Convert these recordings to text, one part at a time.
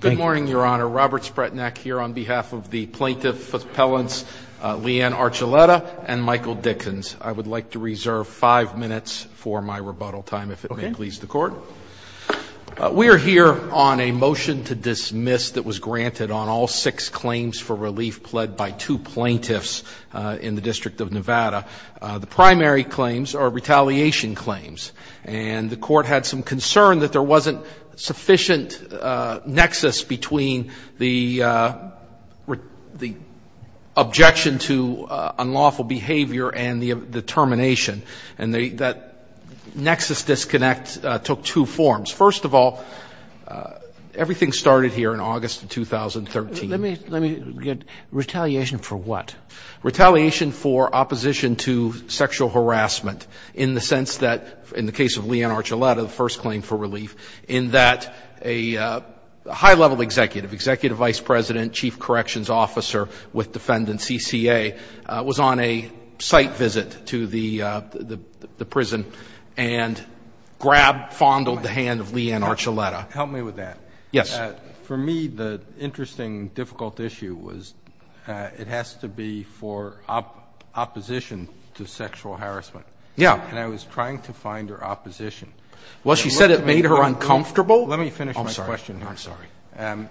Good morning, Your Honor. Robert Spretnak here on behalf of the Plaintiff Appellants Leanne Archuleta and Michael Dickens. I would like to reserve five minutes for my rebuttal time, if it may please the Court. We are here on a motion to dismiss that was granted on all six claims for relief pled by two plaintiffs in the District of Nevada. The primary claims are retaliation claims. And the Court had some concern that there wasn't sufficient nexus between the objection to unlawful behavior and the termination. And that nexus disconnect took two forms. First of all, everything started here in August of 2013. Let me get retaliation for what? Retaliation for opposition to sexual harassment in the sense that in the case of Leanne Archuleta, the first claim for relief, in that a high-level executive, executive vice president, chief corrections officer with defendant CCA, was on a site visit to the prison and grabbed, fondled the hand of Leanne Archuleta. Help me with that. Yes. For me, the interesting, difficult issue was it has to be for opposition to sexual harassment. Yeah. And I was trying to find her opposition. Well, she said it made her uncomfortable. Let me finish my question here. I'm sorry.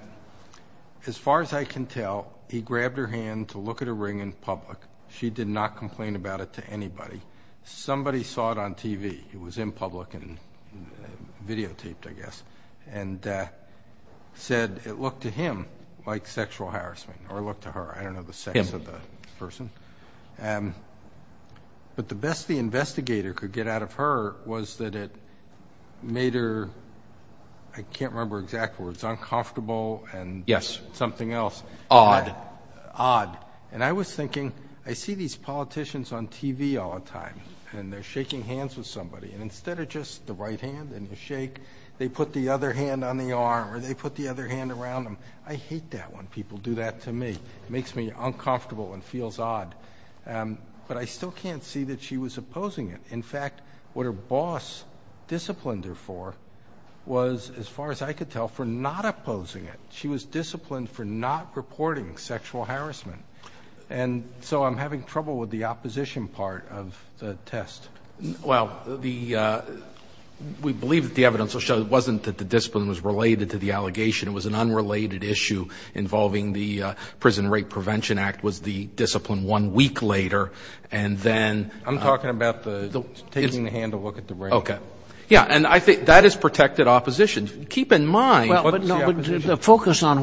As far as I can tell, he grabbed her hand to look at her ring in public. She did not complain about it to anybody. It was in public and videotaped, I guess. And said it looked to him like sexual harassment or looked to her. I don't know the sex of the person. But the best the investigator could get out of her was that it made her, I can't remember exact words, uncomfortable and something else. Odd. Odd. And I was thinking, I see these politicians on TV all the time, and they're shaking hands with somebody. And instead of just the right hand and the shake, they put the other hand on the arm or they put the other hand around them. I hate that when people do that to me. It makes me uncomfortable and feels odd. But I still can't see that she was opposing it. In fact, what her boss disciplined her for was, as far as I could tell, for not opposing it. She was disciplined for not reporting sexual harassment. And so I'm having trouble with the opposition part of the test. Well, the ‑‑ we believe that the evidence will show it wasn't that the discipline was related to the allegation. It was an unrelated issue involving the Prison Rape Prevention Act was the discipline one week later. And then ‑‑ I'm talking about the taking the hand to look at the brain. Okay. Yeah. And I think that is protected opposition. Keep in mind ‑‑ Well, but no. Focus on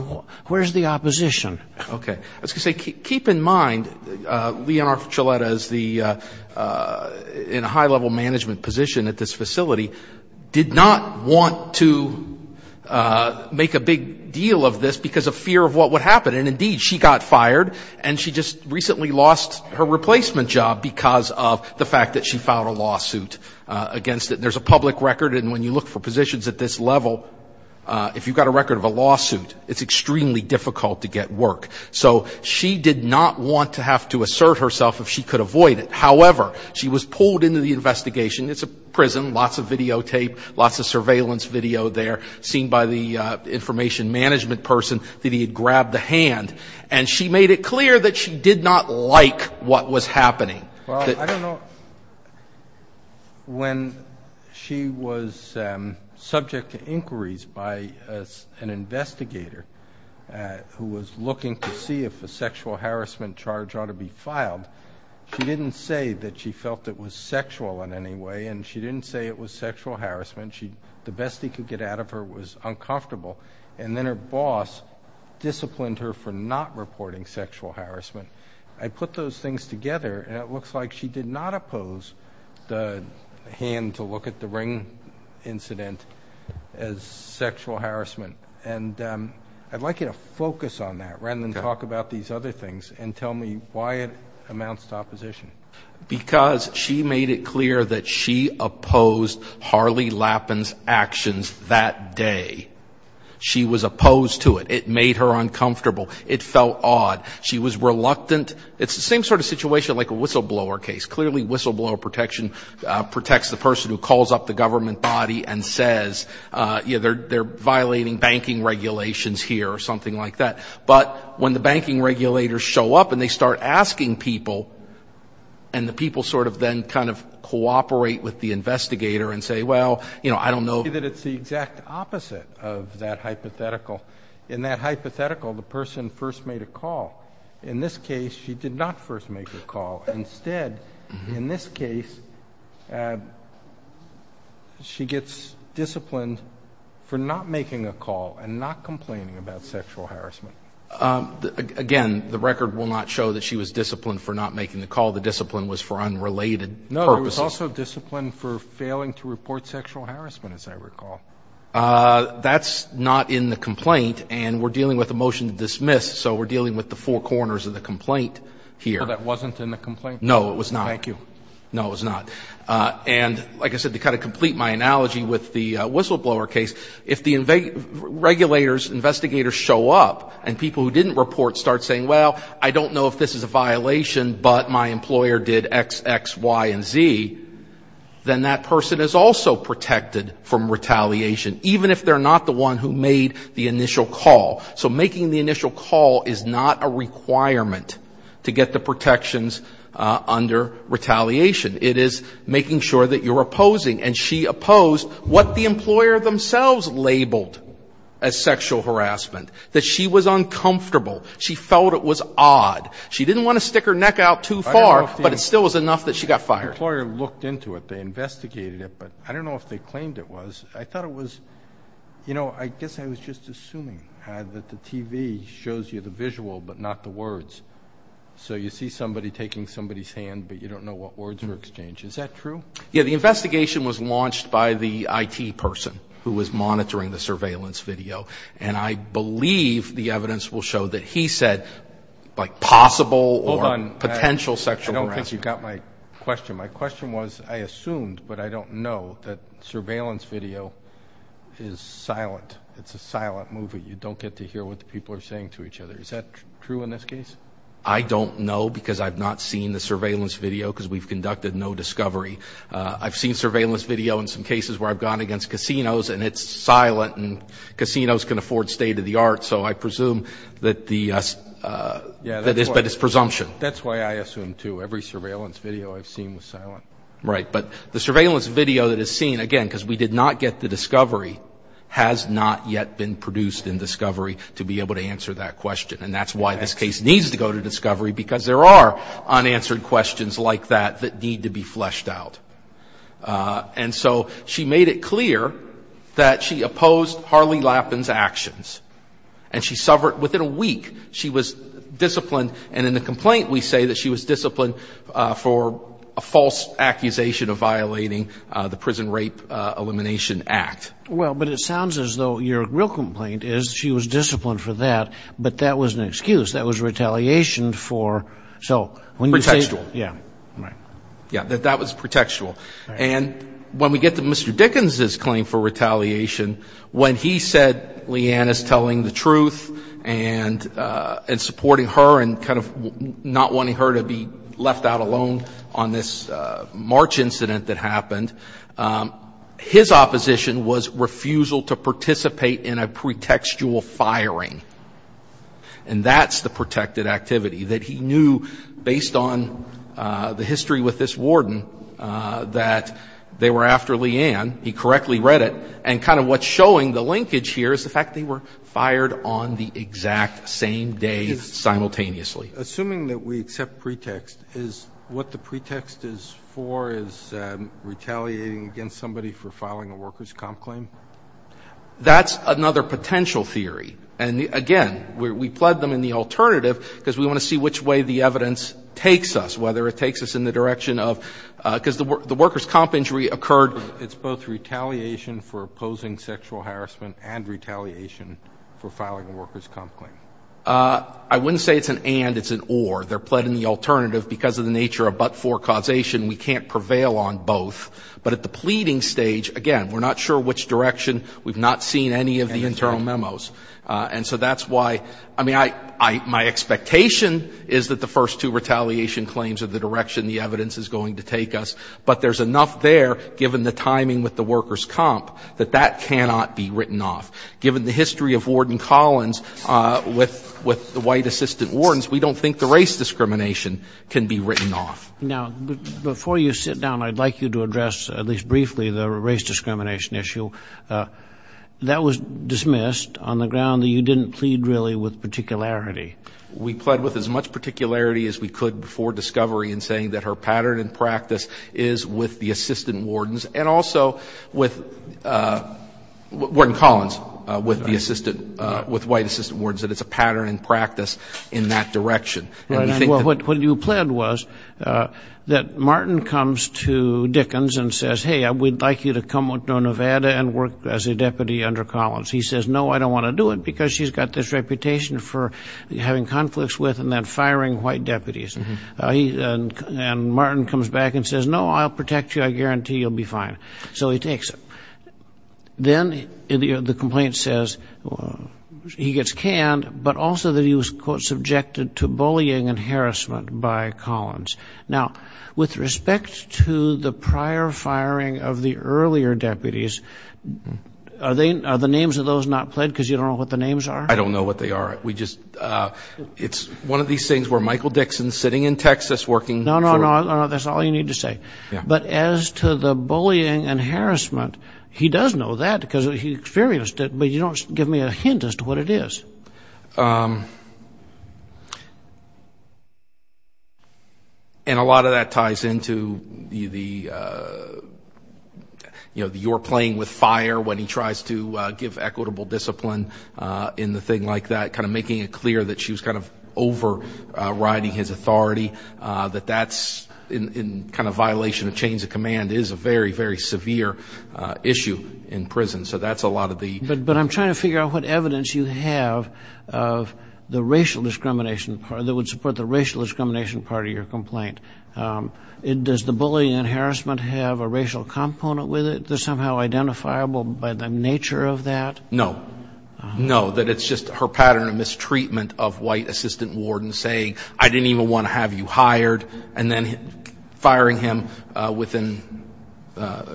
where is the opposition. Okay. I was going to say, keep in mind, Leonora Choleta is the ‑‑ in a high level management position at this facility, did not want to make a big deal of this because of fear of what would happen. And, indeed, she got fired and she just recently lost her replacement job because of the fact that she filed a lawsuit against it. There's a public record. And when you look for positions at this level, if you've got a record of a lawsuit, it's extremely difficult to get work. So she did not want to have to assert herself if she could avoid it. However, she was pulled into the investigation. It's a prison, lots of videotape, lots of surveillance video there, seen by the information management person that he had grabbed the hand. And she made it clear that she did not like what was happening. Well, I don't know. When she was subject to inquiries by an investigator who was looking to see if a sexual harassment charge ought to be filed, she didn't say that she felt it was sexual in any way and she didn't say it was sexual harassment. The best he could get out of her was uncomfortable. And then her boss disciplined her for not reporting sexual harassment. I put those things together, and it looks like she did not oppose the hand to look at the ring incident as sexual harassment. And I'd like you to focus on that rather than talk about these other things and tell me why it amounts to opposition. Because she made it clear that she opposed Harley Lappin's actions that day. She was opposed to it. It made her uncomfortable. It felt odd. She was reluctant. It's the same sort of situation like a whistleblower case. Clearly, whistleblower protection protects the person who calls up the government body and says, you know, they're violating banking regulations here or something like that. But when the banking regulators show up and they start asking people and the people sort of then kind of cooperate with the investigator and say, well, you know, I don't know. It's the exact opposite of that hypothetical. In that hypothetical, the person first made a call. In this case, she did not first make the call. Instead, in this case, she gets disciplined for not making a call and not complaining about sexual harassment. Again, the record will not show that she was disciplined for not making the call. The discipline was for unrelated purposes. No, it was also disciplined for failing to report sexual harassment, as I recall. That's not in the complaint, and we're dealing with a motion to dismiss, so we're dealing with the four corners of the complaint here. So that wasn't in the complaint? No, it was not. Thank you. No, it was not. And like I said, to kind of complete my analogy with the whistleblower case, if the regulators, investigators show up and people who didn't report start saying, well, I don't know if this is a violation, but my employer did X, X, Y, and Z, then that person is also protected from retaliation, even if they're not the one who made the initial call. So making the initial call is not a requirement to get the protections under retaliation. It is making sure that you're opposing, and she opposed what the employer themselves labeled as sexual harassment, that she was uncomfortable. She felt it was odd. She didn't want to stick her neck out too far, but it still was enough that she got fired. The employer looked into it. They investigated it, but I don't know if they claimed it was. I thought it was, you know, I guess I was just assuming that the TV shows you the visual but not the words, so you see somebody taking somebody's hand, but you don't know what words were exchanged. Is that true? Yeah, the investigation was launched by the IT person who was monitoring the surveillance video, and I believe the evidence will show that he said, like, possible or potential sexual harassment. My question was, I assumed, but I don't know, that surveillance video is silent. It's a silent movie. You don't get to hear what the people are saying to each other. Is that true in this case? I don't know because I've not seen the surveillance video because we've conducted no discovery. I've seen surveillance video in some cases where I've gone against casinos, and it's silent, and casinos can afford state-of-the-art, so I presume that it's presumption. That's why I assume, too, every surveillance video I've seen was silent. Right, but the surveillance video that is seen, again, because we did not get the discovery, has not yet been produced in discovery to be able to answer that question, and that's why this case needs to go to discovery because there are unanswered questions like that that need to be fleshed out. And so she made it clear that she opposed Harley Lappin's actions, and she suffered within a week. She was disciplined, and in the complaint we say that she was disciplined for a false accusation of violating the Prison Rape Elimination Act. Well, but it sounds as though your real complaint is she was disciplined for that, but that was an excuse. That was retaliation for, so when you say... Protectual. Yeah, right. Yeah, that was protectual. And when we get to Mr. Dickens' claim for retaliation, when he said Leanne is telling the truth and supporting her and kind of not wanting her to be left out alone on this March incident that happened, his opposition was refusal to participate in a pretextual firing, and that's the protected activity that he knew, based on the history with this warden, that they were after Leanne, he correctly read it, and kind of what's showing the linkage here is the fact they were fired on the exact same day simultaneously. Assuming that we accept pretext, is what the pretext is for is retaliating against somebody for filing a workers' comp claim? That's another potential theory. And again, we pled them in the alternative because we want to see which way the evidence takes us, whether it takes us in the direction of, because the workers' comp injury occurred... It's both retaliation for opposing sexual harassment and retaliation for filing a workers' comp claim. I wouldn't say it's an and, it's an or. They're pled in the alternative because of the nature of but-for causation. We can't prevail on both. But at the pleading stage, again, we're not sure which direction. We've not seen any of the internal memos. And so that's why, I mean, my expectation is that the first two retaliation claims are the direction the evidence is going to take us. But there's enough there, given the timing with the workers' comp, that that cannot be written off. Given the history of Warden Collins with the White assistant wardens, we don't think the race discrimination can be written off. Now, before you sit down, I'd like you to address, at least briefly, the race discrimination issue. That was dismissed on the ground that you didn't plead really with particularity. We pled with as much particularity as we could before discovery in saying that her pattern in practice is with the assistant wardens and also with Warden Collins, with the assistant, with White assistant wardens, that it's a pattern in practice in that direction. Right. And what you pled was that Martin comes to Dickens and says, hey, we'd like you to come to Nevada and work as a deputy under Collins. He says, no, I don't want to do it, because she's got this reputation for having conflicts with and then firing White deputies. And Martin comes back and says, no, I'll protect you. I guarantee you'll be fine. So he takes it. Then the complaint says he gets canned, but also that he was, quote, subjected to bullying and harassment by Collins. Now, with respect to the prior firing of the earlier deputies, are the names of those not pled, because you don't know what the names are? I don't know what they are. We just, it's one of these things where Michael Dixon's sitting in Texas working. No, no, no, that's all you need to say. But as to the bullying and harassment, he does know that because he experienced it, but you don't give me a hint as to what it is. So, and a lot of that ties into the, you know, you're playing with fire when he tries to give equitable discipline in the thing like that, kind of making it clear that she was kind of overriding his authority, that that's in kind of violation of chains of command is a very, very severe issue in prison. So that's a lot of the... of the racial discrimination that would support the racial discrimination part of your complaint. Does the bullying and harassment have a racial component with it that's somehow identifiable by the nature of that? No. No, that it's just her pattern of mistreatment of white assistant wardens saying, I didn't even want to have you hired, and then firing him within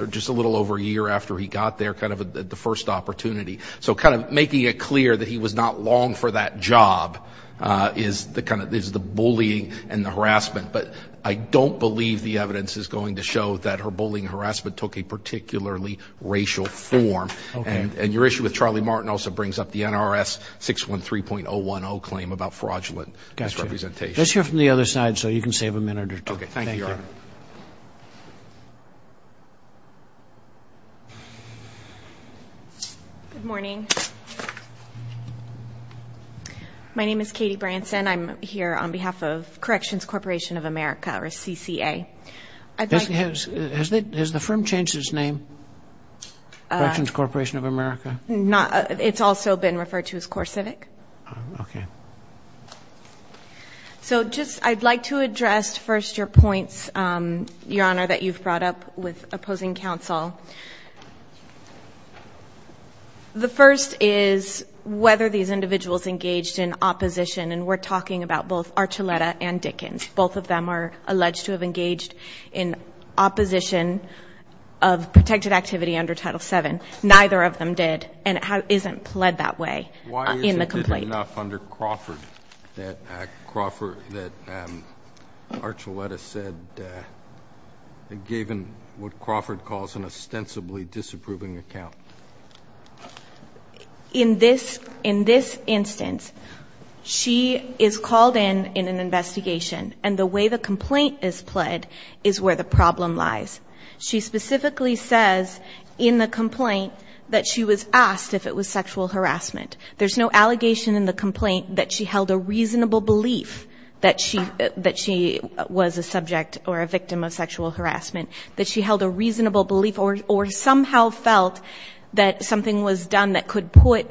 just a little over a year after he got there, kind of the first opportunity. So kind of making it clear that he was not long for that job is the kind of... is the bullying and the harassment. But I don't believe the evidence is going to show that her bullying and harassment took a particularly racial form. And your issue with Charlie Martin also brings up the NRS 613.010 claim about fraudulent misrepresentation. Let's hear from the other side so you can save a minute or two. Okay, thank you, Your Honor. Thank you. Good morning. My name is Katie Branson. I'm here on behalf of Corrections Corporation of America, or CCA. Has the firm changed its name, Corrections Corporation of America? It's also been referred to as CoreCivic. Okay. So just I'd like to address first your points, Your Honor, that you've brought up with opposing counsel. The first is whether these individuals engaged in opposition, and we're talking about both Archuleta and Dickens. Both of them are alleged to have engaged in opposition of protected activity under Title VII. Neither of them did, and it isn't pled that way in the complaint. It's not enough under Crawford that Archuleta said that given what Crawford calls an ostensibly disapproving account. In this instance, she is called in in an investigation, and the way the complaint is pled is where the problem lies. She specifically says in the complaint that she was asked if it was sexual harassment. There's no allegation in the complaint that she held a reasonable belief that she was a subject or a victim of sexual harassment, that she held a reasonable belief or somehow felt that something was done that could put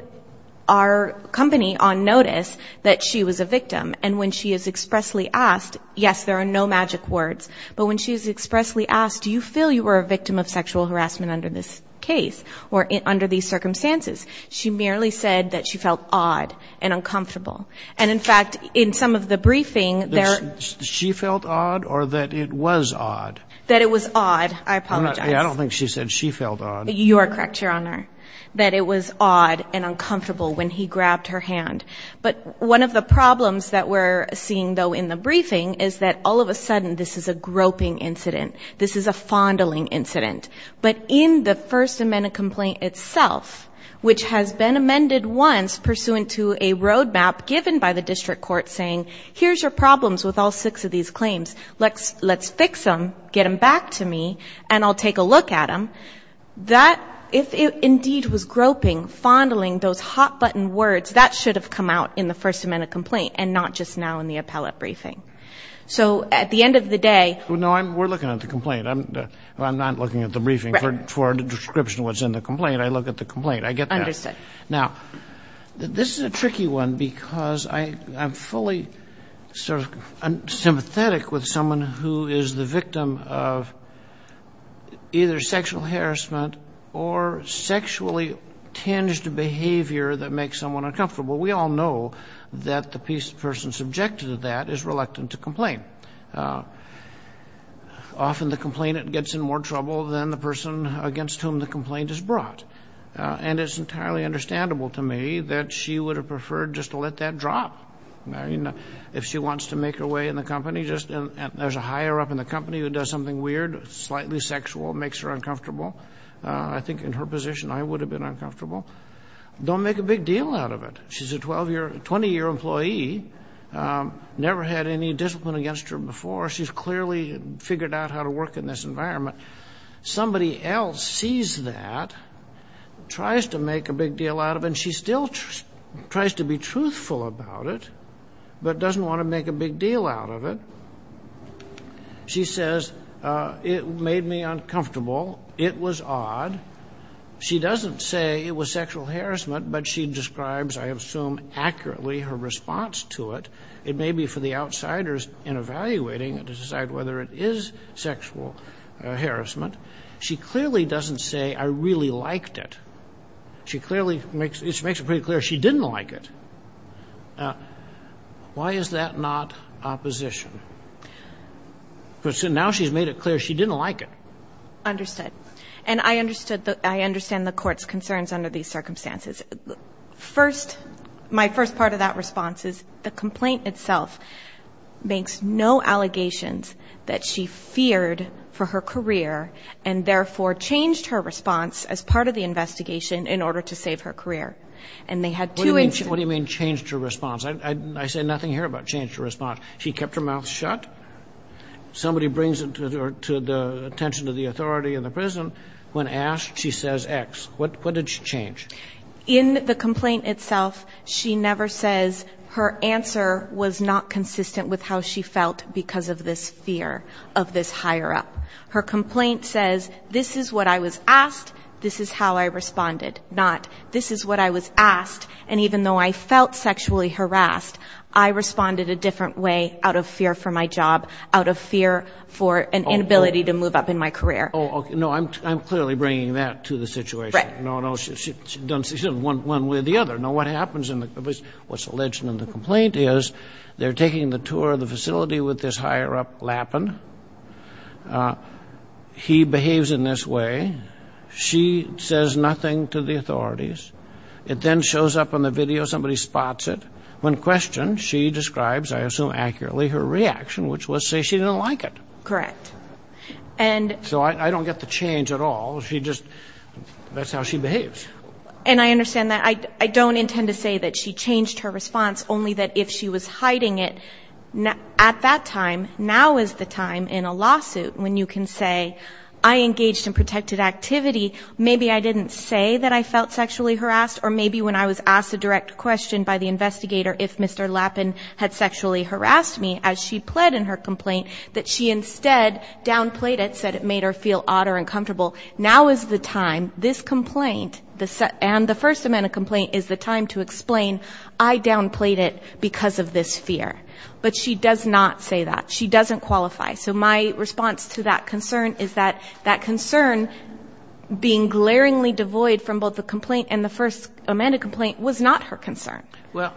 our company on notice that she was a victim. And when she is expressly asked, yes, there are no magic words, but when she is expressly asked, do you feel you were a victim of sexual harassment under this case or under these circumstances, she merely said that she felt awed and uncomfortable. And, in fact, in some of the briefing, there are ‑‑ She felt awed or that it was awed? That it was awed. I apologize. I don't think she said she felt awed. You are correct, Your Honor, that it was awed and uncomfortable when he grabbed her hand. But one of the problems that we're seeing, though, in the briefing is that all of a sudden this is a groping incident. This is a fondling incident. But in the First Amendment complaint itself, which has been amended once pursuant to a roadmap given by the district court saying, here's your problems with all six of these claims. Let's fix them, get them back to me, and I'll take a look at them. That, if it indeed was groping, fondling, those hot‑button words, that should have come out in the First Amendment complaint and not just now in the appellate briefing. So at the end of the day ‑‑ No, we're looking at the complaint. I'm not looking at the briefing for a description of what's in the complaint. I look at the complaint. I get that. Understood. Now, this is a tricky one because I'm fully sort of sympathetic with someone who is the victim of either sexual harassment or sexually tinged behavior that makes someone uncomfortable. We all know that the person subjected to that is reluctant to complain. Often the complainant gets in more trouble than the person against whom the complaint is brought. And it's entirely understandable to me that she would have preferred just to let that drop. I mean, if she wants to make her way in the company, there's a higher up in the company who does something weird, slightly sexual, makes her uncomfortable. I think in her position I would have been uncomfortable. Don't make a big deal out of it. She's a 20‑year employee, never had any discipline against her before. She's clearly figured out how to work in this environment. Somebody else sees that, tries to make a big deal out of it, and she still tries to be truthful about it but doesn't want to make a big deal out of it. She says, it made me uncomfortable. It was odd. She doesn't say it was sexual harassment, but she describes, I assume accurately, her response to it. It may be for the outsiders in evaluating to decide whether it is sexual harassment. She clearly doesn't say, I really liked it. She clearly makes it pretty clear she didn't like it. Why is that not opposition? Now she's made it clear she didn't like it. Understood. And I understand the Court's concerns under these circumstances. First, my first part of that response is the complaint itself makes no allegations that she feared for her career and therefore changed her response as part of the investigation in order to save her career. And they had two instances. What do you mean changed her response? I said nothing here about changed her response. She kept her mouth shut. Somebody brings it to the attention of the authority in the prison. When asked, she says X. What did she change? In the complaint itself, she never says her answer was not consistent with how she felt because of this fear of this higher up. Her complaint says, this is what I was asked, this is how I responded. Not, this is what I was asked, and even though I felt sexually harassed, I responded a different way out of fear for my job, out of fear for an inability to move up in my career. Oh, okay. No, I'm clearly bringing that to the situation. Right. No, no, she's done one way or the other. Now what happens in the, what's alleged in the complaint is they're taking the tour of the facility with this higher up, Lappin. He behaves in this way. She says nothing to the authorities. It then shows up on the video. Somebody spots it. When questioned, she describes, I assume accurately, her reaction, which was say she didn't like it. Correct. So I don't get the change at all. She just, that's how she behaves. And I understand that. I don't intend to say that she changed her response, only that if she was hiding it at that time, now is the time in a lawsuit when you can say, I engaged in protected activity. Maybe I didn't say that I felt sexually harassed, or maybe when I was asked a direct question by the investigator if Mr. Lappin had sexually harassed me, as she pled in her complaint, that she instead downplayed it, said it made her feel odd or uncomfortable. Now is the time, this complaint, and the first amendment complaint, is the time to explain, I downplayed it because of this fear. But she does not say that. She doesn't qualify. So my response to that concern is that that concern, being glaringly devoid from both the complaint and the first amendment complaint, was not her concern. Well,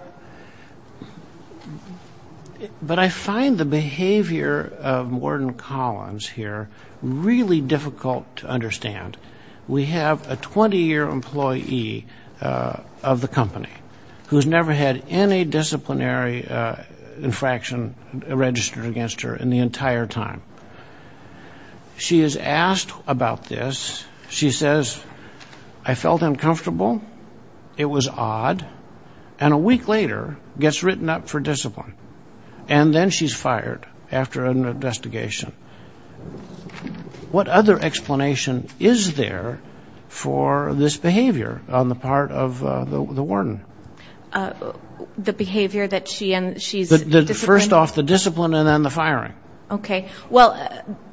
but I find the behavior of Morton Collins here really difficult to understand. We have a 20-year employee of the company who has never had any disciplinary infraction registered against her in the entire time. She is asked about this. She says, I felt uncomfortable. It was odd. And a week later, gets written up for discipline. And then she's fired after an investigation. What other explanation is there for this behavior on the part of the warden? The behavior that she's disciplined? First off, the discipline and then the firing. Okay. Well,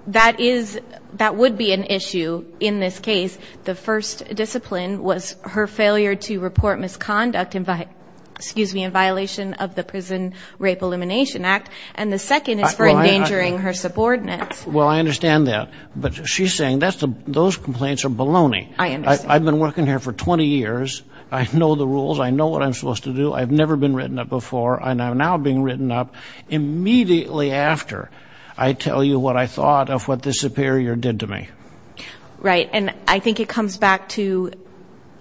that would be an issue in this case. The first discipline was her failure to report misconduct in violation of the Prison Rape Elimination Act. And the second is for endangering her subordinates. Well, I understand that. But she's saying those complaints are baloney. I understand. I've been working here for 20 years. I know the rules. I know what I'm supposed to do. I've never been written up before. And I'm now being written up immediately after I tell you what I thought of what the superior did to me. Right. And I think it comes back to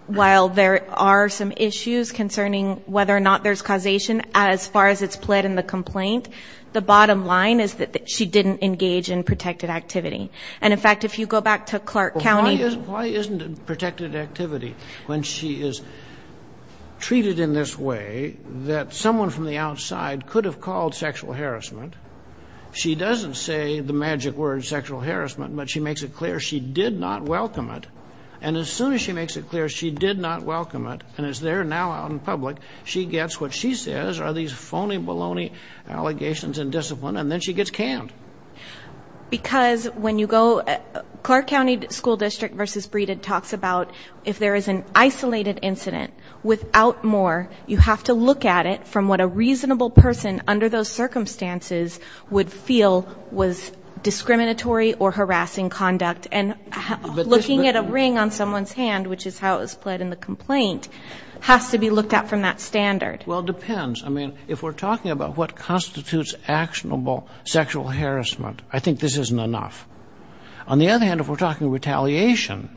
while there are some issues concerning whether or not there's causation, as far as it's played in the complaint, the bottom line is that she didn't engage in protected activity. And, in fact, if you go back to Clark County. Why isn't it protected activity when she is treated in this way that someone from the outside could have called sexual harassment? She doesn't say the magic word sexual harassment. But she makes it clear she did not welcome it. And as soon as she makes it clear she did not welcome it, and is there now out in public, she gets what she says are these phony baloney allegations and discipline, and then she gets canned. Because when you go to Clark County School District versus Breedon talks about if there is an isolated incident, without more, you have to look at it from what a reasonable person under those circumstances would feel was discriminatory or harassing conduct, and looking at a ring on someone's hand, which is how it was played in the complaint, has to be looked at from that standard. Well, it depends. I mean, if we're talking about what constitutes actionable sexual harassment, I think this isn't enough. On the other hand, if we're talking retaliation,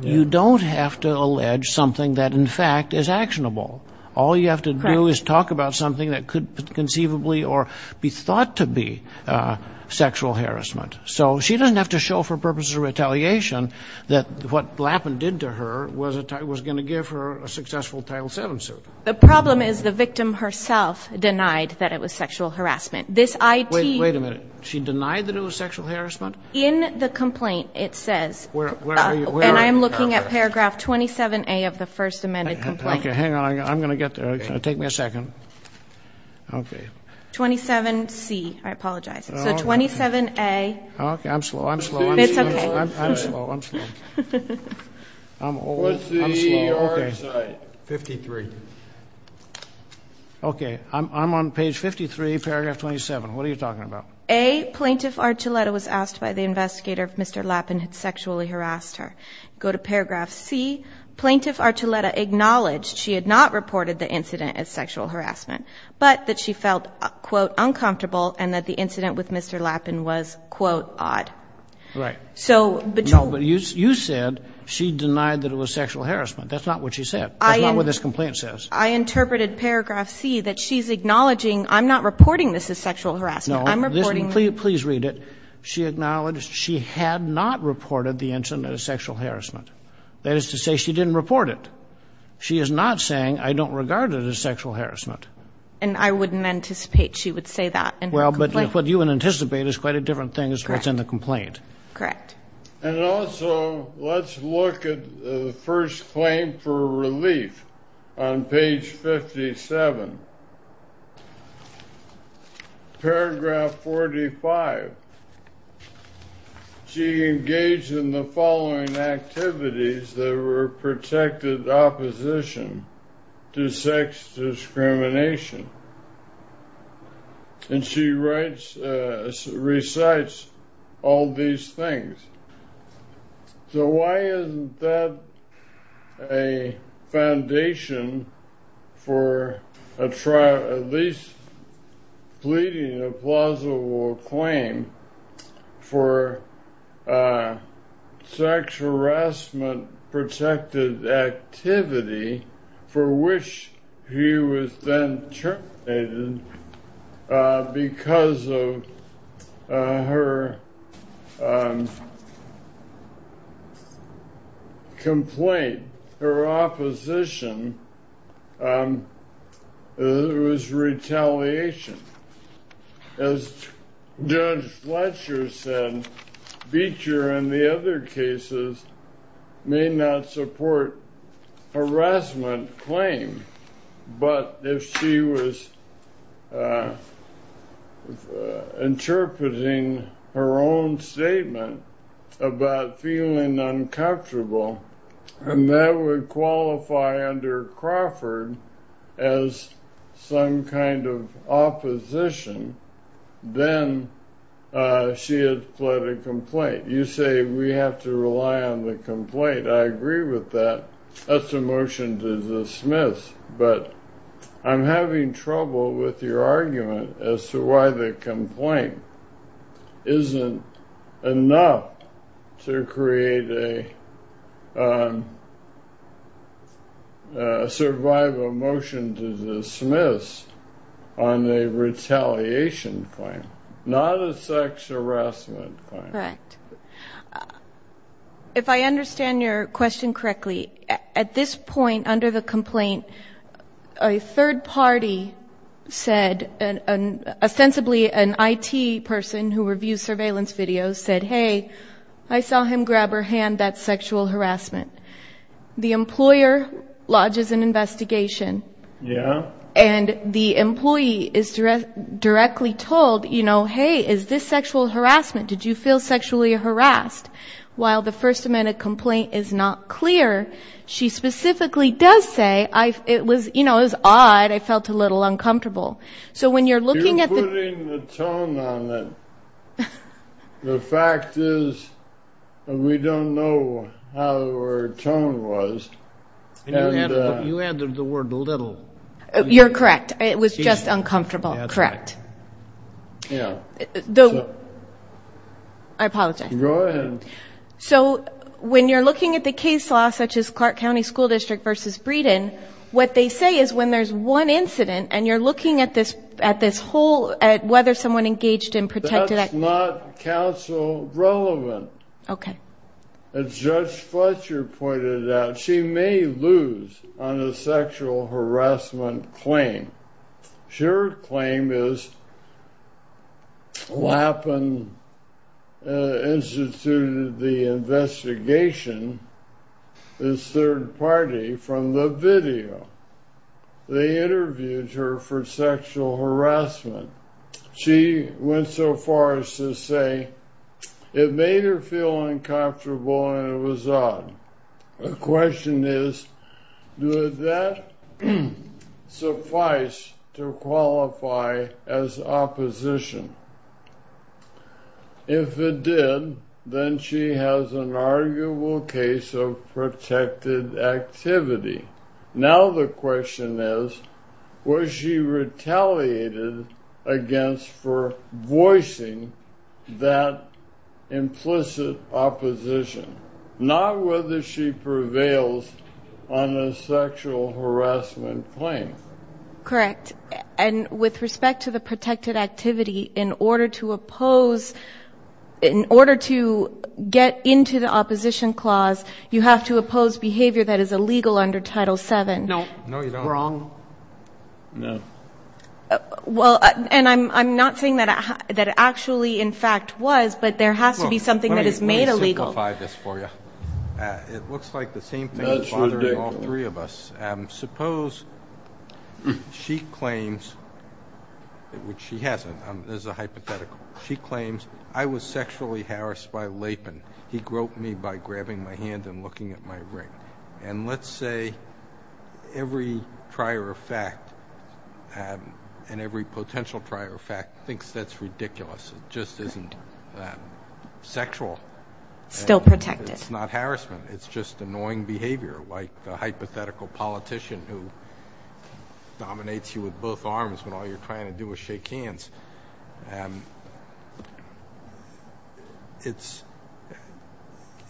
you don't have to allege something that, in fact, is actionable. All you have to do is talk about something that could conceivably or be thought to be sexual harassment. So she doesn't have to show for purposes of retaliation that what Lappin did to her was going to give her a successful Title VII suit. The problem is the victim herself denied that it was sexual harassment. This I.T. Wait a minute. She denied that it was sexual harassment? In the complaint it says, and I'm looking at paragraph 27A of the first amended complaint. Hang on. I'm going to get there. Take me a second. Okay. 27C. I apologize. So 27A. Okay. I'm slow. I'm slow. It's okay. I'm slow. I'm slow. I'm old. I'm slow. Okay. 53. Okay. I'm on page 53, paragraph 27. What are you talking about? A, Plaintiff Archuleta was asked by the investigator if Mr. Lappin had sexually harassed her. Go to paragraph C. Plaintiff Archuleta acknowledged she had not reported the incident as sexual harassment, but that she felt, quote, uncomfortable and that the incident with Mr. Lappin was, quote, odd. Right. So, but you. No, but you said she denied that it was sexual harassment. That's not what she said. That's not what this complaint says. I interpreted paragraph C that she's acknowledging I'm not reporting this as sexual harassment. No. I'm reporting. Please read it. She acknowledged she had not reported the incident as sexual harassment. That is to say she didn't report it. She is not saying I don't regard it as sexual harassment. And I wouldn't anticipate she would say that. Well, but what you would anticipate is quite a different thing as to what's in the complaint. Correct. And also, let's look at the first claim for relief on page 57. Paragraph 45. She engaged in the following activities that were protected opposition to sex discrimination. And she writes, recites all these things. So why isn't that a foundation for at least pleading a plausible claim for sexual harassment activity for which he was then terminated because of her complaint, her opposition, it was retaliation. As Judge Fletcher said, Beecher and the other cases may not support harassment claim, but if she was interpreting her own statement about feeling uncomfortable, and that would then she had fled a complaint. You say we have to rely on the complaint. I agree with that. That's a motion to dismiss. But I'm having trouble with your argument as to why the complaint isn't enough to create a survival motion to dismiss on a retaliation claim, not a sex harassment claim. Correct. If I understand your question correctly, at this point under the complaint, a third party said, ostensibly an IT person who reviews surveillance videos said, hey, I saw him grab her hand, that's sexual harassment. The employer lodges an investigation. Yeah. And the employee is directly told, you know, hey, is this sexual harassment? Did you feel sexually harassed? While the First Amendment complaint is not clear, she specifically does say, you know, it was odd. I felt a little uncomfortable. You're putting the tone on it. The fact is we don't know how her tone was. You added the word little. You're correct. It was just uncomfortable. Correct. I apologize. Go ahead. So when you're looking at the case law, such as Clark County School District versus Breeden, what they say is when there's one incident and you're looking at this whole, at whether someone engaged in a protected act. That's not counsel relevant. Okay. As Judge Fletcher pointed out, she may lose on a sexual harassment claim. Her claim is Lappin instituted the investigation, this third party, from the video. They interviewed her for sexual harassment. She went so far as to say it made her feel uncomfortable and it was odd. The question is, does that suffice to qualify as opposition? If it did, then she has an arguable case of protected activity. Now the question is, was she retaliated against for voicing that implicit opposition? Not whether she prevails on a sexual harassment claim. Correct. And with respect to the protected activity, in order to oppose, in order to get into the opposition clause, you have to oppose behavior that is illegal under Title VII. No, you don't. Wrong. Well, and I'm not saying that it actually, in fact, was, but there has to be something that is made illegal. Let me simplify this for you. It looks like the same thing is bothering all three of us. Suppose she claims, which she hasn't, as a hypothetical, she claims, I was sexually harassed by Lappin. He groped me by grabbing my hand and looking at my ring. And let's say every prior fact and every potential prior fact thinks that's ridiculous. It just isn't that sexual. It's not harassment. It's just annoying behavior, like the hypothetical politician who dominates you with both arms when all you're trying to do is shake hands.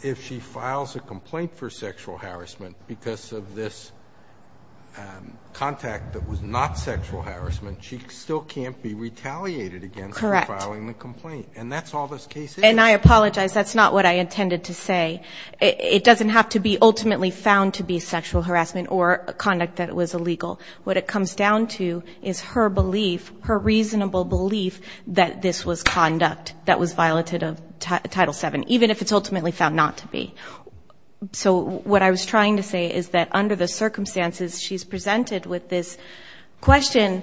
If she files a complaint for sexual harassment because of this contact that was not sexual harassment, she still can't be retaliated against for filing the complaint. Correct. And that's all this case is. And I apologize. That's not what I intended to say. It doesn't have to be ultimately found to be sexual harassment or conduct that was illegal. What it comes down to is her belief, her reasonable belief, that this was conduct that was violated of Title VII, even if it's ultimately found not to be. So what I was trying to say is that under the circumstances, she's presented with this question,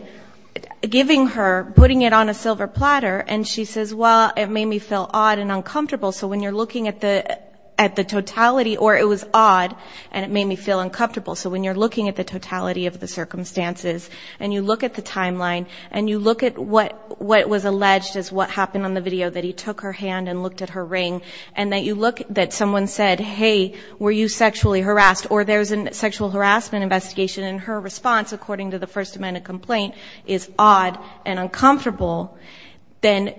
giving her, putting it on a silver platter, and she says, well, it made me feel odd and uncomfortable. So when you're looking at the totality, or it was odd and it made me feel uncomfortable, so when you're looking at the totality of the circumstances and you look at the timeline and you look at what was alleged as what happened on the video, that he took her hand and looked at her ring, and that someone said, hey, were you sexually harassed, or there's a sexual harassment investigation, and her response, according to the First Amendment complaint, is odd and uncomfortable, then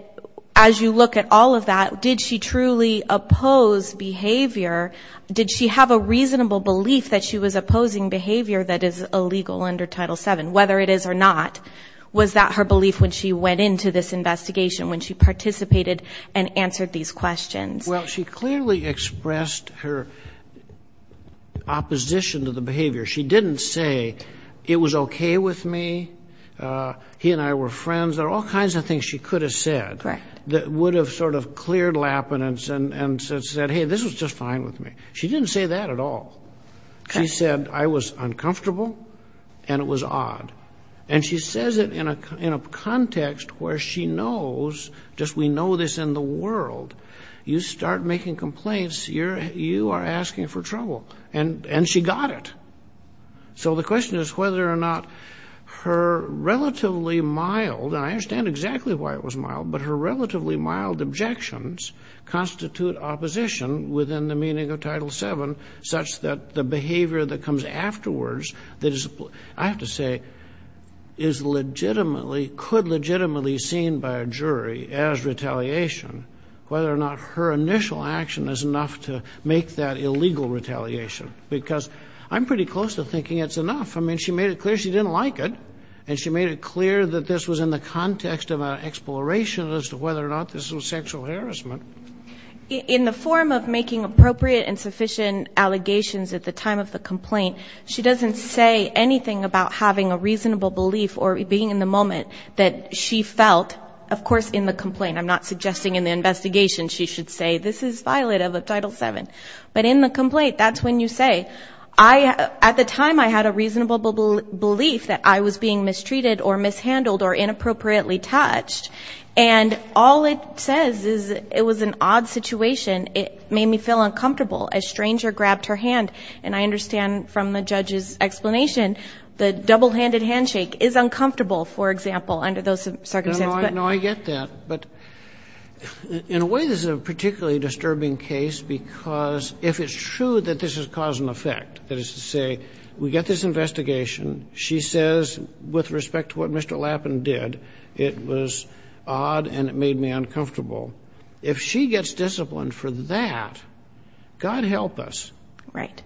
as you look at all of that, did she truly oppose behavior? Did she have a reasonable belief that she was opposing behavior that is illegal under Title VII, whether it is or not? Was that her belief when she went into this investigation, when she participated and answered these questions? Well, she clearly expressed her opposition to the behavior. She didn't say, it was okay with me, he and I were friends. There are all kinds of things she could have said that would have sort of cleared Lappinance and said, hey, this was just fine with me. She didn't say that at all. She said, I was uncomfortable and it was odd. And she says it in a context where she knows, just we know this in the world, you start making complaints, you are asking for trouble. And she got it. So the question is whether or not her relatively mild, and I understand exactly why it was mild, but her relatively mild objections constitute opposition within the meaning of Title VII, such that the behavior that comes afterwards, I have to say, could legitimately be seen by a jury as retaliation, whether or not her initial action is enough to make that illegal retaliation. Because I'm pretty close to thinking it's enough. I mean, she made it clear she didn't like it, and she made it clear that this was in the context of an exploration as to whether or not this was sexual harassment. In the form of making appropriate and sufficient allegations at the time of the complaint, she doesn't say anything about having a reasonable belief or being in the moment that she felt. Of course, in the complaint, I'm not suggesting in the investigation, she should say this is violative of Title VII. But in the complaint, that's when you say, at the time I had a reasonable belief that I was being mistreated or mishandled or inappropriately touched, and all it says is it was an odd situation. It made me feel uncomfortable. A stranger grabbed her hand, and I understand from the judge's explanation, the double-handed handshake is uncomfortable, for example, under those circumstances. No, I get that. But in a way, this is a particularly disturbing case because if it's true that this has caused an effect, that is to say we get this investigation, she says with respect to what Mr. Lappin did, it was odd and it made me uncomfortable. If she gets disciplined for that, God help us. Right.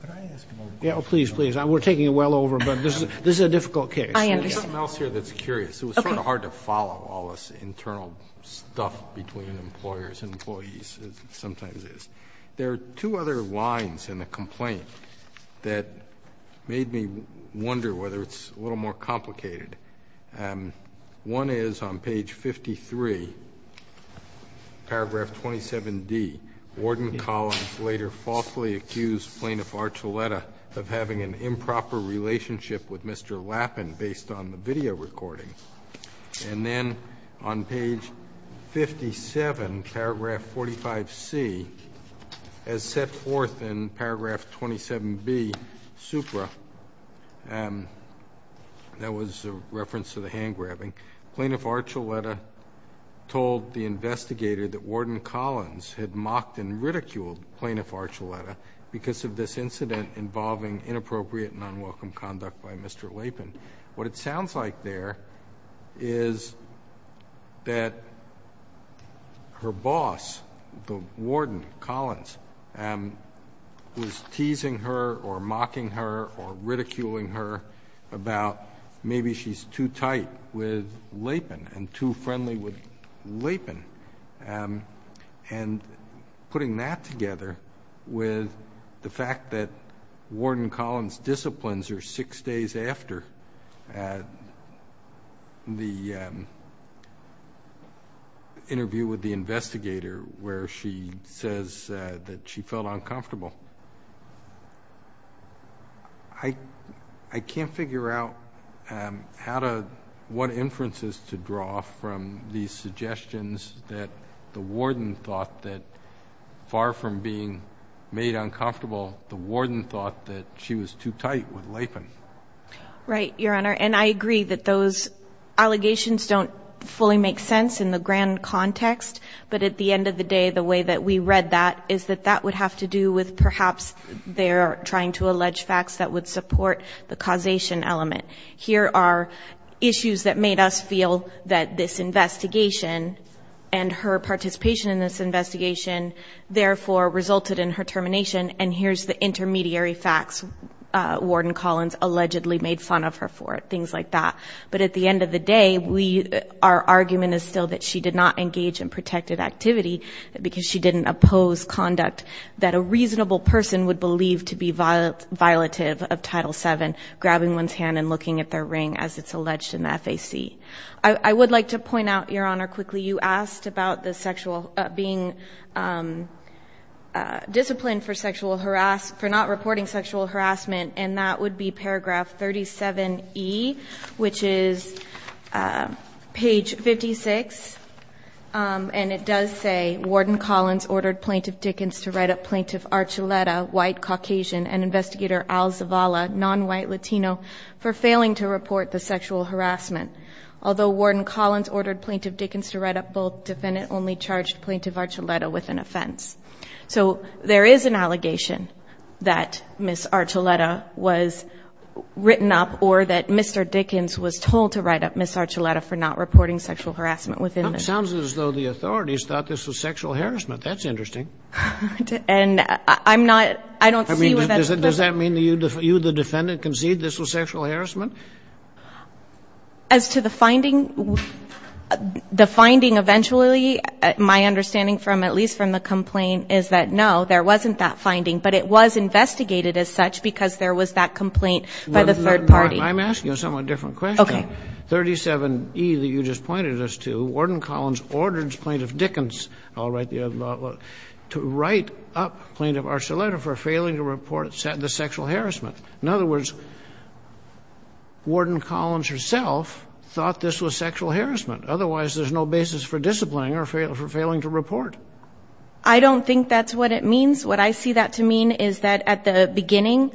Could I ask another question? Yes, please, please. We're taking it well over, but this is a difficult case. I understand. There's something else here that's curious. Okay. It was sort of hard to follow all this internal stuff between employers and employees as it sometimes is. There are two other lines in the complaint that made me wonder whether it's a little more complicated. One is on page 53, paragraph 27D, Warden Collins later falsely accused Plaintiff Archuleta of having an improper relationship with Mr. Lappin based on the video recording. And then on page 57, paragraph 45C, as set forth in paragraph 27B, Supra, that was a reference to the hand grabbing, Plaintiff Archuleta told the investigator that Warden Collins had mocked and ridiculed Plaintiff Archuleta because of this incident involving inappropriate and unwelcome conduct by Mr. Lappin. What it sounds like there is that her boss, the Warden Collins, was teasing her or mocking her or ridiculing her about maybe she's too tight with Lappin and too friendly with Lappin. And putting that together with the fact that Warden Collins' disciplines are after the interview with the investigator where she says that she felt uncomfortable. I can't figure out what inferences to draw from these suggestions that the warden thought that far from being made uncomfortable, the warden thought that she was too tight with Lappin. Right, Your Honor. And I agree that those allegations don't fully make sense in the grand context. But at the end of the day, the way that we read that is that that would have to do with perhaps they're trying to allege facts that would support the causation element. Here are issues that made us feel that this investigation and her participation in this investigation, therefore, resulted in her termination. And here's the intermediary facts. Warden Collins allegedly made fun of her for it, things like that. But at the end of the day, our argument is still that she did not engage in protective activity because she didn't oppose conduct that a reasonable person would believe to be violative of Title VII, grabbing one's hand and looking at their ring as it's alleged in the FAC. I would like to point out, Your Honor, quickly you asked about being disciplined for not reporting sexual harassment, and that would be paragraph 37E, which is page 56. And it does say, Warden Collins ordered Plaintiff Dickens to write up Plaintiff Archuleta, white, Caucasian, and Investigator Al Zavala, non-white, Latino, for failing to report the sexual harassment. Although Warden Collins ordered Plaintiff Dickens to write up both, defendant only charged Plaintiff Archuleta with an offense. So there is an allegation that Ms. Archuleta was written up or that Mr. Dickens was told to write up Ms. Archuleta for not reporting sexual harassment within this. It sounds as though the authorities thought this was sexual harassment. That's interesting. And I'm not – I don't see what that's – I mean, does that mean that you, the defendant, concede this was sexual harassment? As to the finding, the finding eventually, my understanding from – at least from the complaint, is that no, there wasn't that finding, but it was investigated as such because there was that complaint by the third party. I'm asking a somewhat different question. Okay. 37E that you just pointed us to, Warden Collins ordered Plaintiff Dickens – I'll write the other – to write up Plaintiff Archuleta for failing to report the sexual harassment. In other words, Warden Collins herself thought this was sexual harassment. Otherwise, there's no basis for disciplining or for failing to report. I don't think that's what it means. What I see that to mean is that at the beginning,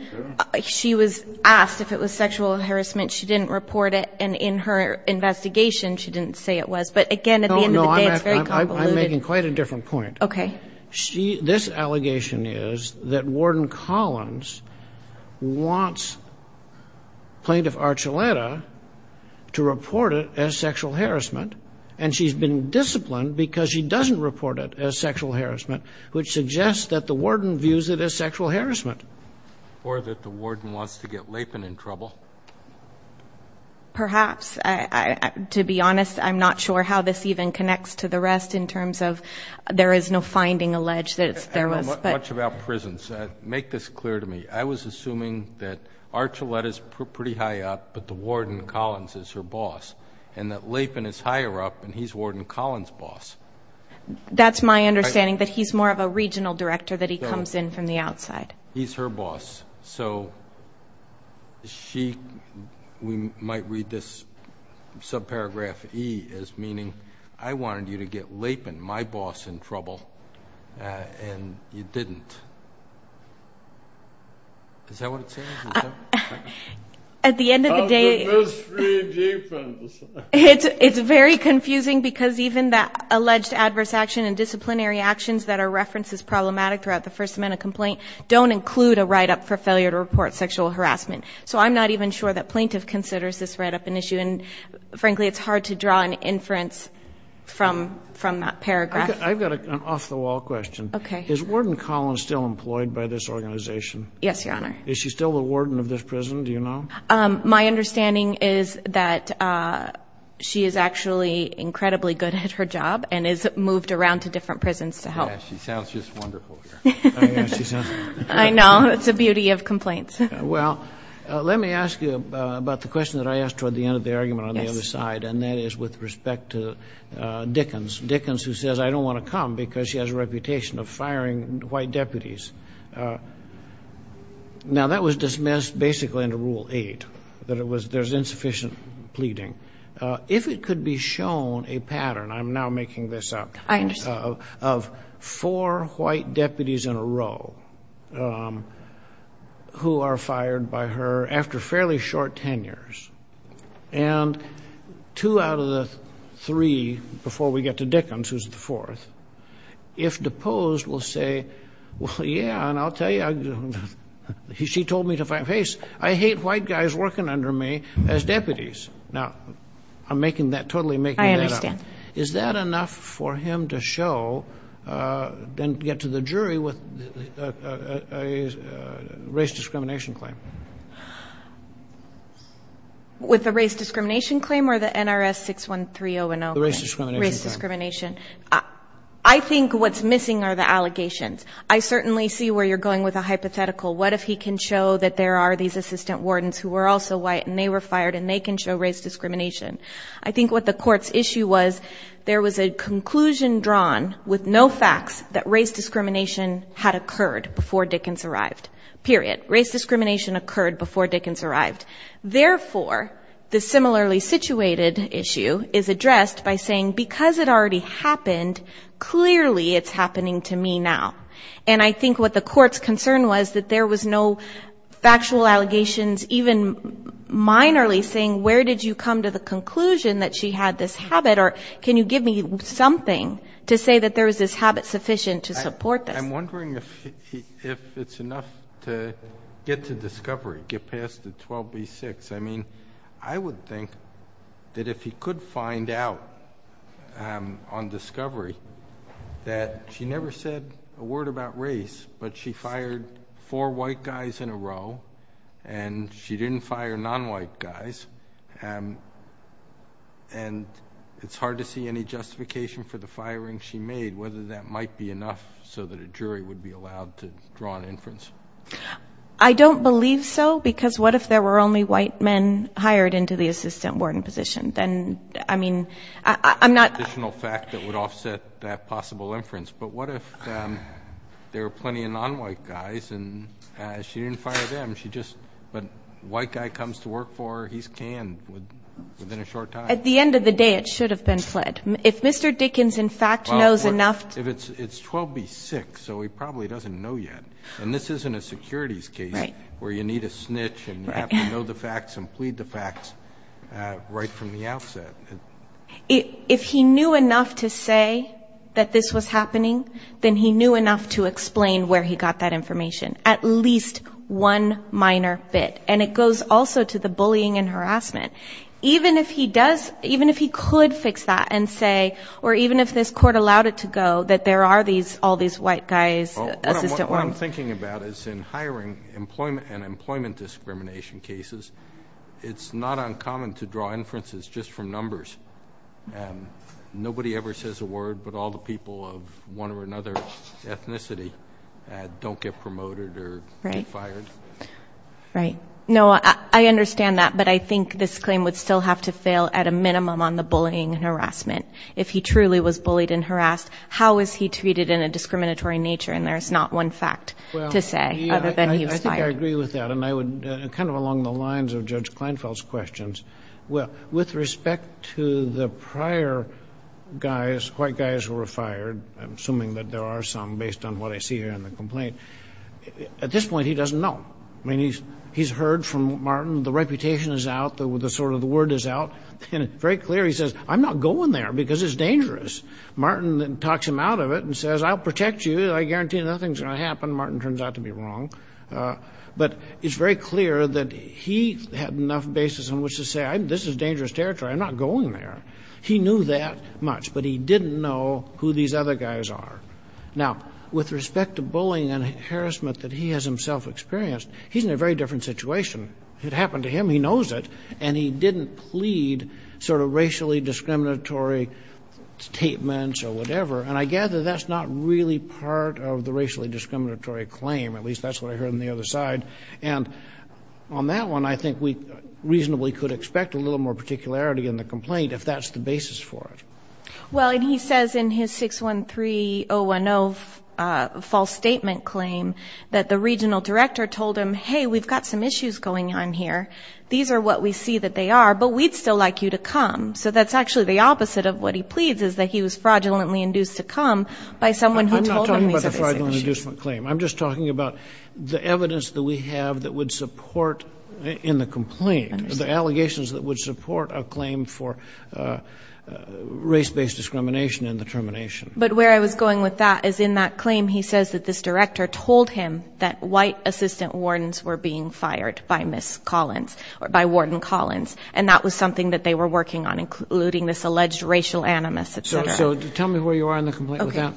she was asked if it was sexual harassment. She didn't report it. And in her investigation, she didn't say it was. But, again, at the end of the day, it's very convoluted. No, no, I'm making quite a different point. Okay. This allegation is that Warden Collins wants Plaintiff Archuleta to report it as sexual harassment, and she's been disciplined because she doesn't report it as sexual harassment, which suggests that the warden views it as sexual harassment. Or that the warden wants to get Lapan in trouble. Perhaps. To be honest, I'm not sure how this even connects to the rest in terms of there is no finding alleged that there was. I don't know much about prisons. Make this clear to me. I was assuming that Archuleta is pretty high up, but the warden, Collins, is her boss, and that Lapan is higher up and he's Warden Collins' boss. That's my understanding, that he's more of a regional director, that he comes in from the outside. He's her boss. So she might read this subparagraph E as meaning, I wanted you to get Lapan, my boss, in trouble, and you didn't. Is that what it says? At the end of the day, it's very confusing because even the alleged adverse action and disciplinary actions that are referenced as problematic throughout the First Amendment complaint don't include a write-up for failure to report sexual harassment. So I'm not even sure that plaintiff considers this write-up an issue. And, frankly, it's hard to draw an inference from that paragraph. I've got an off-the-wall question. Is Warden Collins still employed by this organization? Yes, Your Honor. Is she still the warden of this prison, do you know? My understanding is that she is actually incredibly good at her job and has moved around to different prisons to help. Yeah, she sounds just wonderful. I know. It's the beauty of complaints. Well, let me ask you about the question that I asked toward the end of the argument on the other side, and that is with respect to Dickens, Dickens who says, I don't want to come because she has a reputation of firing white deputies. Now, that was dismissed basically under Rule 8, that there's insufficient pleading. If it could be shown a pattern, I'm now making this up, I understand. of four white deputies in a row who are fired by her after fairly short tenures, and two out of the three, before we get to Dickens, who's the fourth, if deposed will say, well, yeah, and I'll tell you, she told me to fight my case. I hate white guys working under me as deputies. Now, I'm making that, totally making that up. I understand. Is that enough for him to show and get to the jury with a race discrimination claim? With the race discrimination claim or the NRS 613-010? The race discrimination claim. Race discrimination. I think what's missing are the allegations. I certainly see where you're going with a hypothetical. What if he can show that there are these assistant wardens who are also white, and they were fired, and they can show race discrimination? I think what the court's issue was, there was a conclusion drawn with no facts that race discrimination had occurred before Dickens arrived. Period. Race discrimination occurred before Dickens arrived. Therefore, the similarly situated issue is addressed by saying, because it already happened, clearly it's happening to me now. And I think what the court's concern was that there was no factual allegations, even minorly, saying where did you come to the conclusion that she had this habit, or can you give me something to say that there was this habit sufficient to support this? I'm wondering if it's enough to get to discovery, get past the 12B6. I mean, I would think that if he could find out on discovery that she never said a word about race, but she fired four white guys in a row, and she didn't fire non-white guys, and it's hard to see any justification for the firing she made, whether that might be enough so that a jury would be allowed to draw an inference. I don't believe so, because what if there were only white men hired into the assistant warden position? Then, I mean, I'm not. Additional fact that would offset that possible inference. But what if there were plenty of non-white guys and she didn't fire them, but a white guy comes to work for her, he's canned within a short time? At the end of the day, it should have been fled. If Mr. Dickens, in fact, knows enough to do it. It's 12B6, so he probably doesn't know yet. And this isn't a securities case where you need a snitch and you have to know the facts and plead the facts right from the outset. If he knew enough to say that this was happening, then he knew enough to explain where he got that information. At least one minor bit. And it goes also to the bullying and harassment. Even if he could fix that and say, or even if this court allowed it to go, that there are all these white guys assistant wardens. What I'm thinking about is in hiring and employment discrimination cases, it's not uncommon to draw inferences just from numbers. Nobody ever says a word, but all the people of one or another ethnicity don't get promoted or get fired. Right. No, I understand that, but I think this claim would still have to fail at a minimum on the bullying and harassment. If he truly was bullied and harassed, how is he treated in a discriminatory nature? And there's not one fact to say other than he was fired. I think I agree with that. And I would, kind of along the lines of Judge Kleinfeld's questions, with respect to the prior guys, white guys who were fired, I'm assuming that there are some based on what I see here in the complaint. At this point, he doesn't know. I mean, he's heard from Martin. The reputation is out. The word is out. And it's very clear. He says, I'm not going there because it's dangerous. Martin talks him out of it and says, I'll protect you. I guarantee nothing's going to happen. Martin turns out to be wrong. But it's very clear that he had enough basis on which to say, this is dangerous territory. I'm not going there. He knew that much, but he didn't know who these other guys are. Now, with respect to bullying and harassment that he has himself experienced, he's in a very different situation. It happened to him. He knows it. And he didn't plead sort of racially discriminatory statements or whatever. And I gather that's not really part of the racially discriminatory claim. At least that's what I heard on the other side. And on that one, I think we reasonably could expect a little more particularity in the complaint if that's the basis for it. Well, and he says in his 613-010 false statement claim that the regional director told him, hey, we've got some issues going on here. These are what we see that they are, but we'd still like you to come. So that's actually the opposite of what he pleads is that he was fraudulently induced to come by someone who told him these other issues. I'm not talking about the fraudulent inducement claim. I'm just talking about the evidence that we have that would support in the complaint, the allegations that would support a claim for race-based discrimination in the termination. But where I was going with that is in that claim he says that this director told him that white assistant wardens were being fired by Miss Collins, or by Warden Collins, and that was something that they were working on, including this alleged racial animus, et cetera. So tell me where you are in the complaint with that.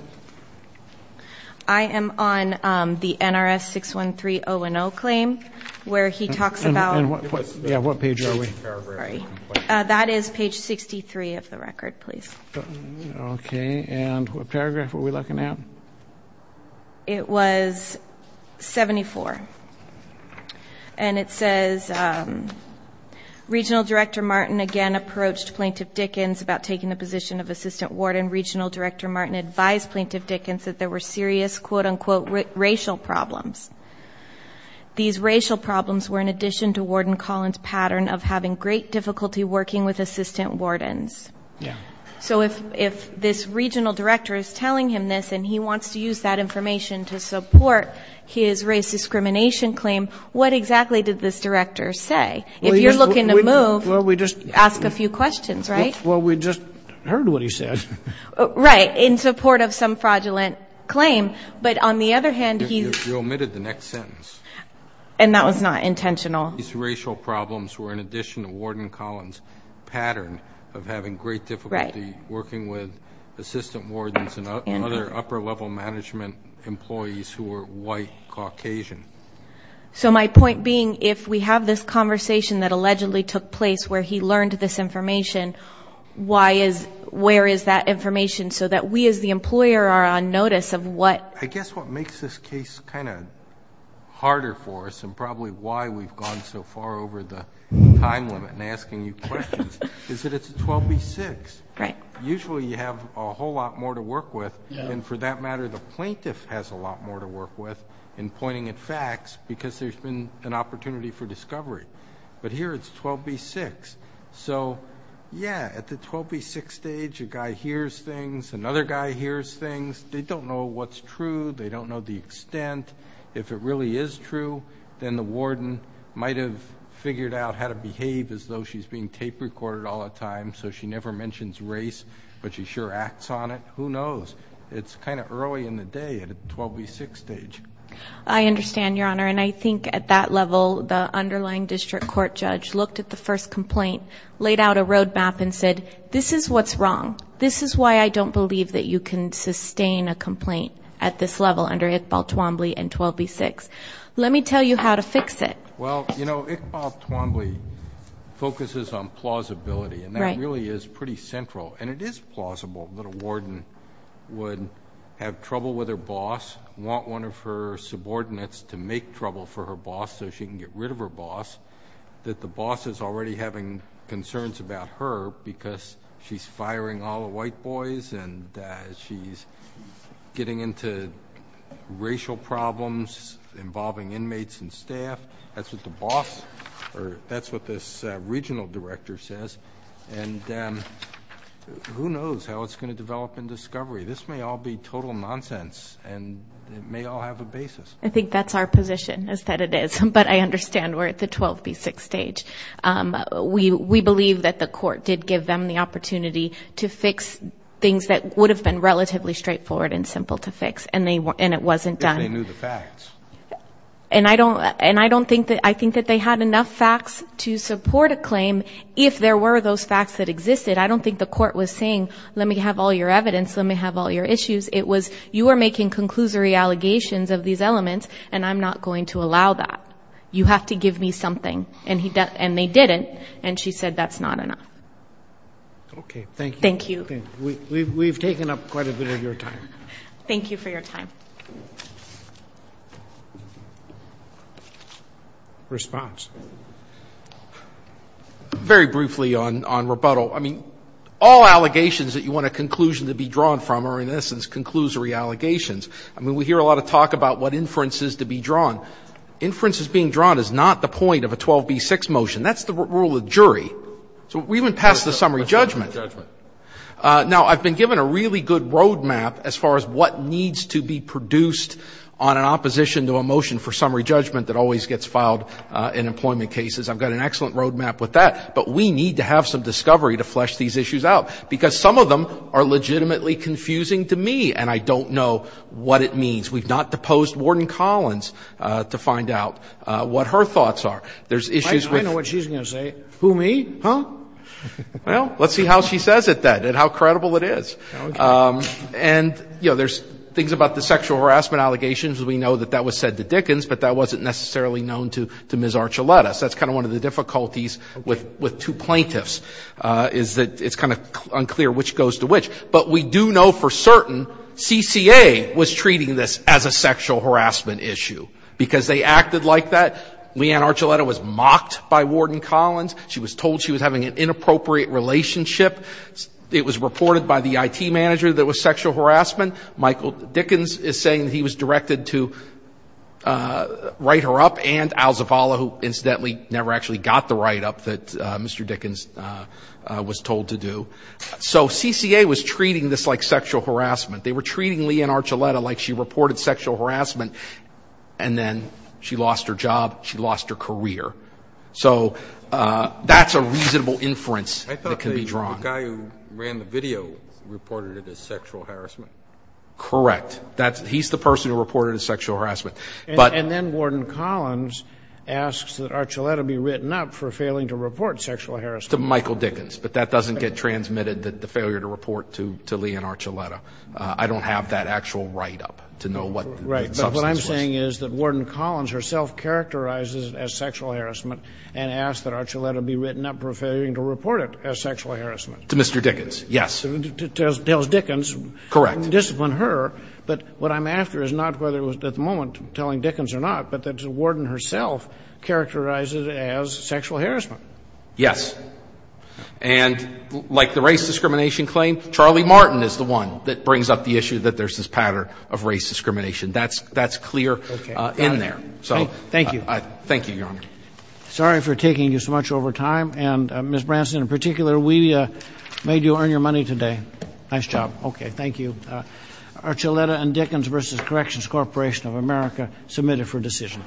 I am on the NRS 613-010 claim where he talks about. Yeah, what page are we? That is page 63 of the record, please. Okay. And what paragraph are we looking at? It was 74. And it says, Regional Director Martin again approached Plaintiff Dickens about taking the position of assistant warden. Regional Director Martin advised Plaintiff Dickens that there were serious, quote-unquote, racial problems. These racial problems were in addition to Warden Collins' pattern of having great difficulty working with assistant wardens. Yeah. So if this regional director is telling him this and he wants to use that information to support his race discrimination claim, what exactly did this director say? If you're looking to move, ask a few questions, right? Well, we just heard what he said. Right. In support of some fraudulent claim. But on the other hand, he... You omitted the next sentence. And that was not intentional. These racial problems were in addition to Warden Collins' pattern of having great difficulty working with assistant wardens and other upper-level management employees who were white, Caucasian. So my point being, if we have this conversation that allegedly took place where he learned this information, where is that information so that we as the employer are on notice of what... I've gone so far over the time limit in asking you questions, is that it's a 12B6. Right. Usually you have a whole lot more to work with. And for that matter, the plaintiff has a lot more to work with in pointing at facts because there's been an opportunity for discovery. But here it's 12B6. So, yeah, at the 12B6 stage, a guy hears things. Another guy hears things. They don't know what's true. They don't know the extent. If it really is true, then the warden might have figured out how to behave as though she's being tape recorded all the time so she never mentions race, but she sure acts on it. Who knows? It's kind of early in the day at a 12B6 stage. I understand, Your Honor. And I think at that level, the underlying district court judge looked at the first complaint, laid out a road map and said, this is what's wrong. This is why I don't believe that you can sustain a complaint at this level under Iqbal Twombly and 12B6. Let me tell you how to fix it. Well, you know, Iqbal Twombly focuses on plausibility, and that really is pretty central. And it is plausible that a warden would have trouble with her boss, want one of her subordinates to make trouble for her boss so she can get rid of her boss, that the boss is already having concerns about her because she's firing all the white boys and she's getting into racial problems involving inmates and staff. That's what the boss or that's what this regional director says. And who knows how it's going to develop in discovery. This may all be total nonsense, and it may all have a basis. I think that's our position is that it is. But I understand we're at the 12B6 stage. We believe that the court did give them the opportunity to fix things that would have been relatively straightforward and simple to fix, and it wasn't done. If they knew the facts. And I don't think that they had enough facts to support a claim if there were those facts that existed. I don't think the court was saying, let me have all your evidence, let me have all your issues. It was, you are making conclusory allegations of these elements, and I'm not going to allow that. You have to give me something. And they didn't, and she said that's not enough. Okay, thank you. Thank you. We've taken up quite a bit of your time. Thank you for your time. Response. Very briefly on rebuttal. So, I mean, all allegations that you want a conclusion to be drawn from are, in essence, conclusory allegations. I mean, we hear a lot of talk about what inference is to be drawn. Inference is being drawn is not the point of a 12B6 motion. That's the rule of jury. So we even pass the summary judgment. Now, I've been given a really good road map as far as what needs to be produced on an opposition to a motion for summary judgment that always gets filed in employment cases. I've got an excellent road map with that, but we need to have some discovery to flesh these issues out, because some of them are legitimately confusing to me, and I don't know what it means. We've not deposed Warden Collins to find out what her thoughts are. I know what she's going to say. Who, me? Huh? Well, let's see how she says it, then, and how credible it is. And, you know, there's things about the sexual harassment allegations. We know that that was said to Dickens, but that wasn't necessarily known to Ms. Archuletas. That's kind of one of the difficulties with two plaintiffs, is that it's kind of unclear which goes to which. But we do know for certain CCA was treating this as a sexual harassment issue, because they acted like that. Leanne Archuleta was mocked by Warden Collins. She was told she was having an inappropriate relationship. It was reported by the IT manager that it was sexual harassment. Michael Dickens is saying that he was directed to write her up, and Alzavala, who, incidentally, never actually got the write-up that Mr. Dickens was told to do. So CCA was treating this like sexual harassment. They were treating Leanne Archuleta like she reported sexual harassment, and then she lost her job, she lost her career. So that's a reasonable inference that can be drawn. The guy who ran the video reported it as sexual harassment. Correct. He's the person who reported it as sexual harassment. And then Warden Collins asks that Archuleta be written up for failing to report sexual harassment. To Michael Dickens. But that doesn't get transmitted, the failure to report to Leanne Archuleta. I don't have that actual write-up to know what the substance was. Right. But what I'm saying is that Warden Collins herself characterizes it as sexual harassment and asks that Archuleta be written up for failing to report it as sexual harassment. To Mr. Dickens. Yes. Tells Dickens. Correct. Discipline her. But what I'm after is not whether it was at the moment telling Dickens or not, but that the Warden herself characterized it as sexual harassment. Yes. And like the race discrimination claim, Charlie Martin is the one that brings up the issue that there's this pattern of race discrimination. That's clear in there. Thank you. Thank you, Your Honor. Sorry for taking you so much over time. And, Ms. Branson, in particular, we made you earn your money today. Nice job. Okay. Thank you. Archuleta and Dickens v. Corrections Corporation of America submitted for decision.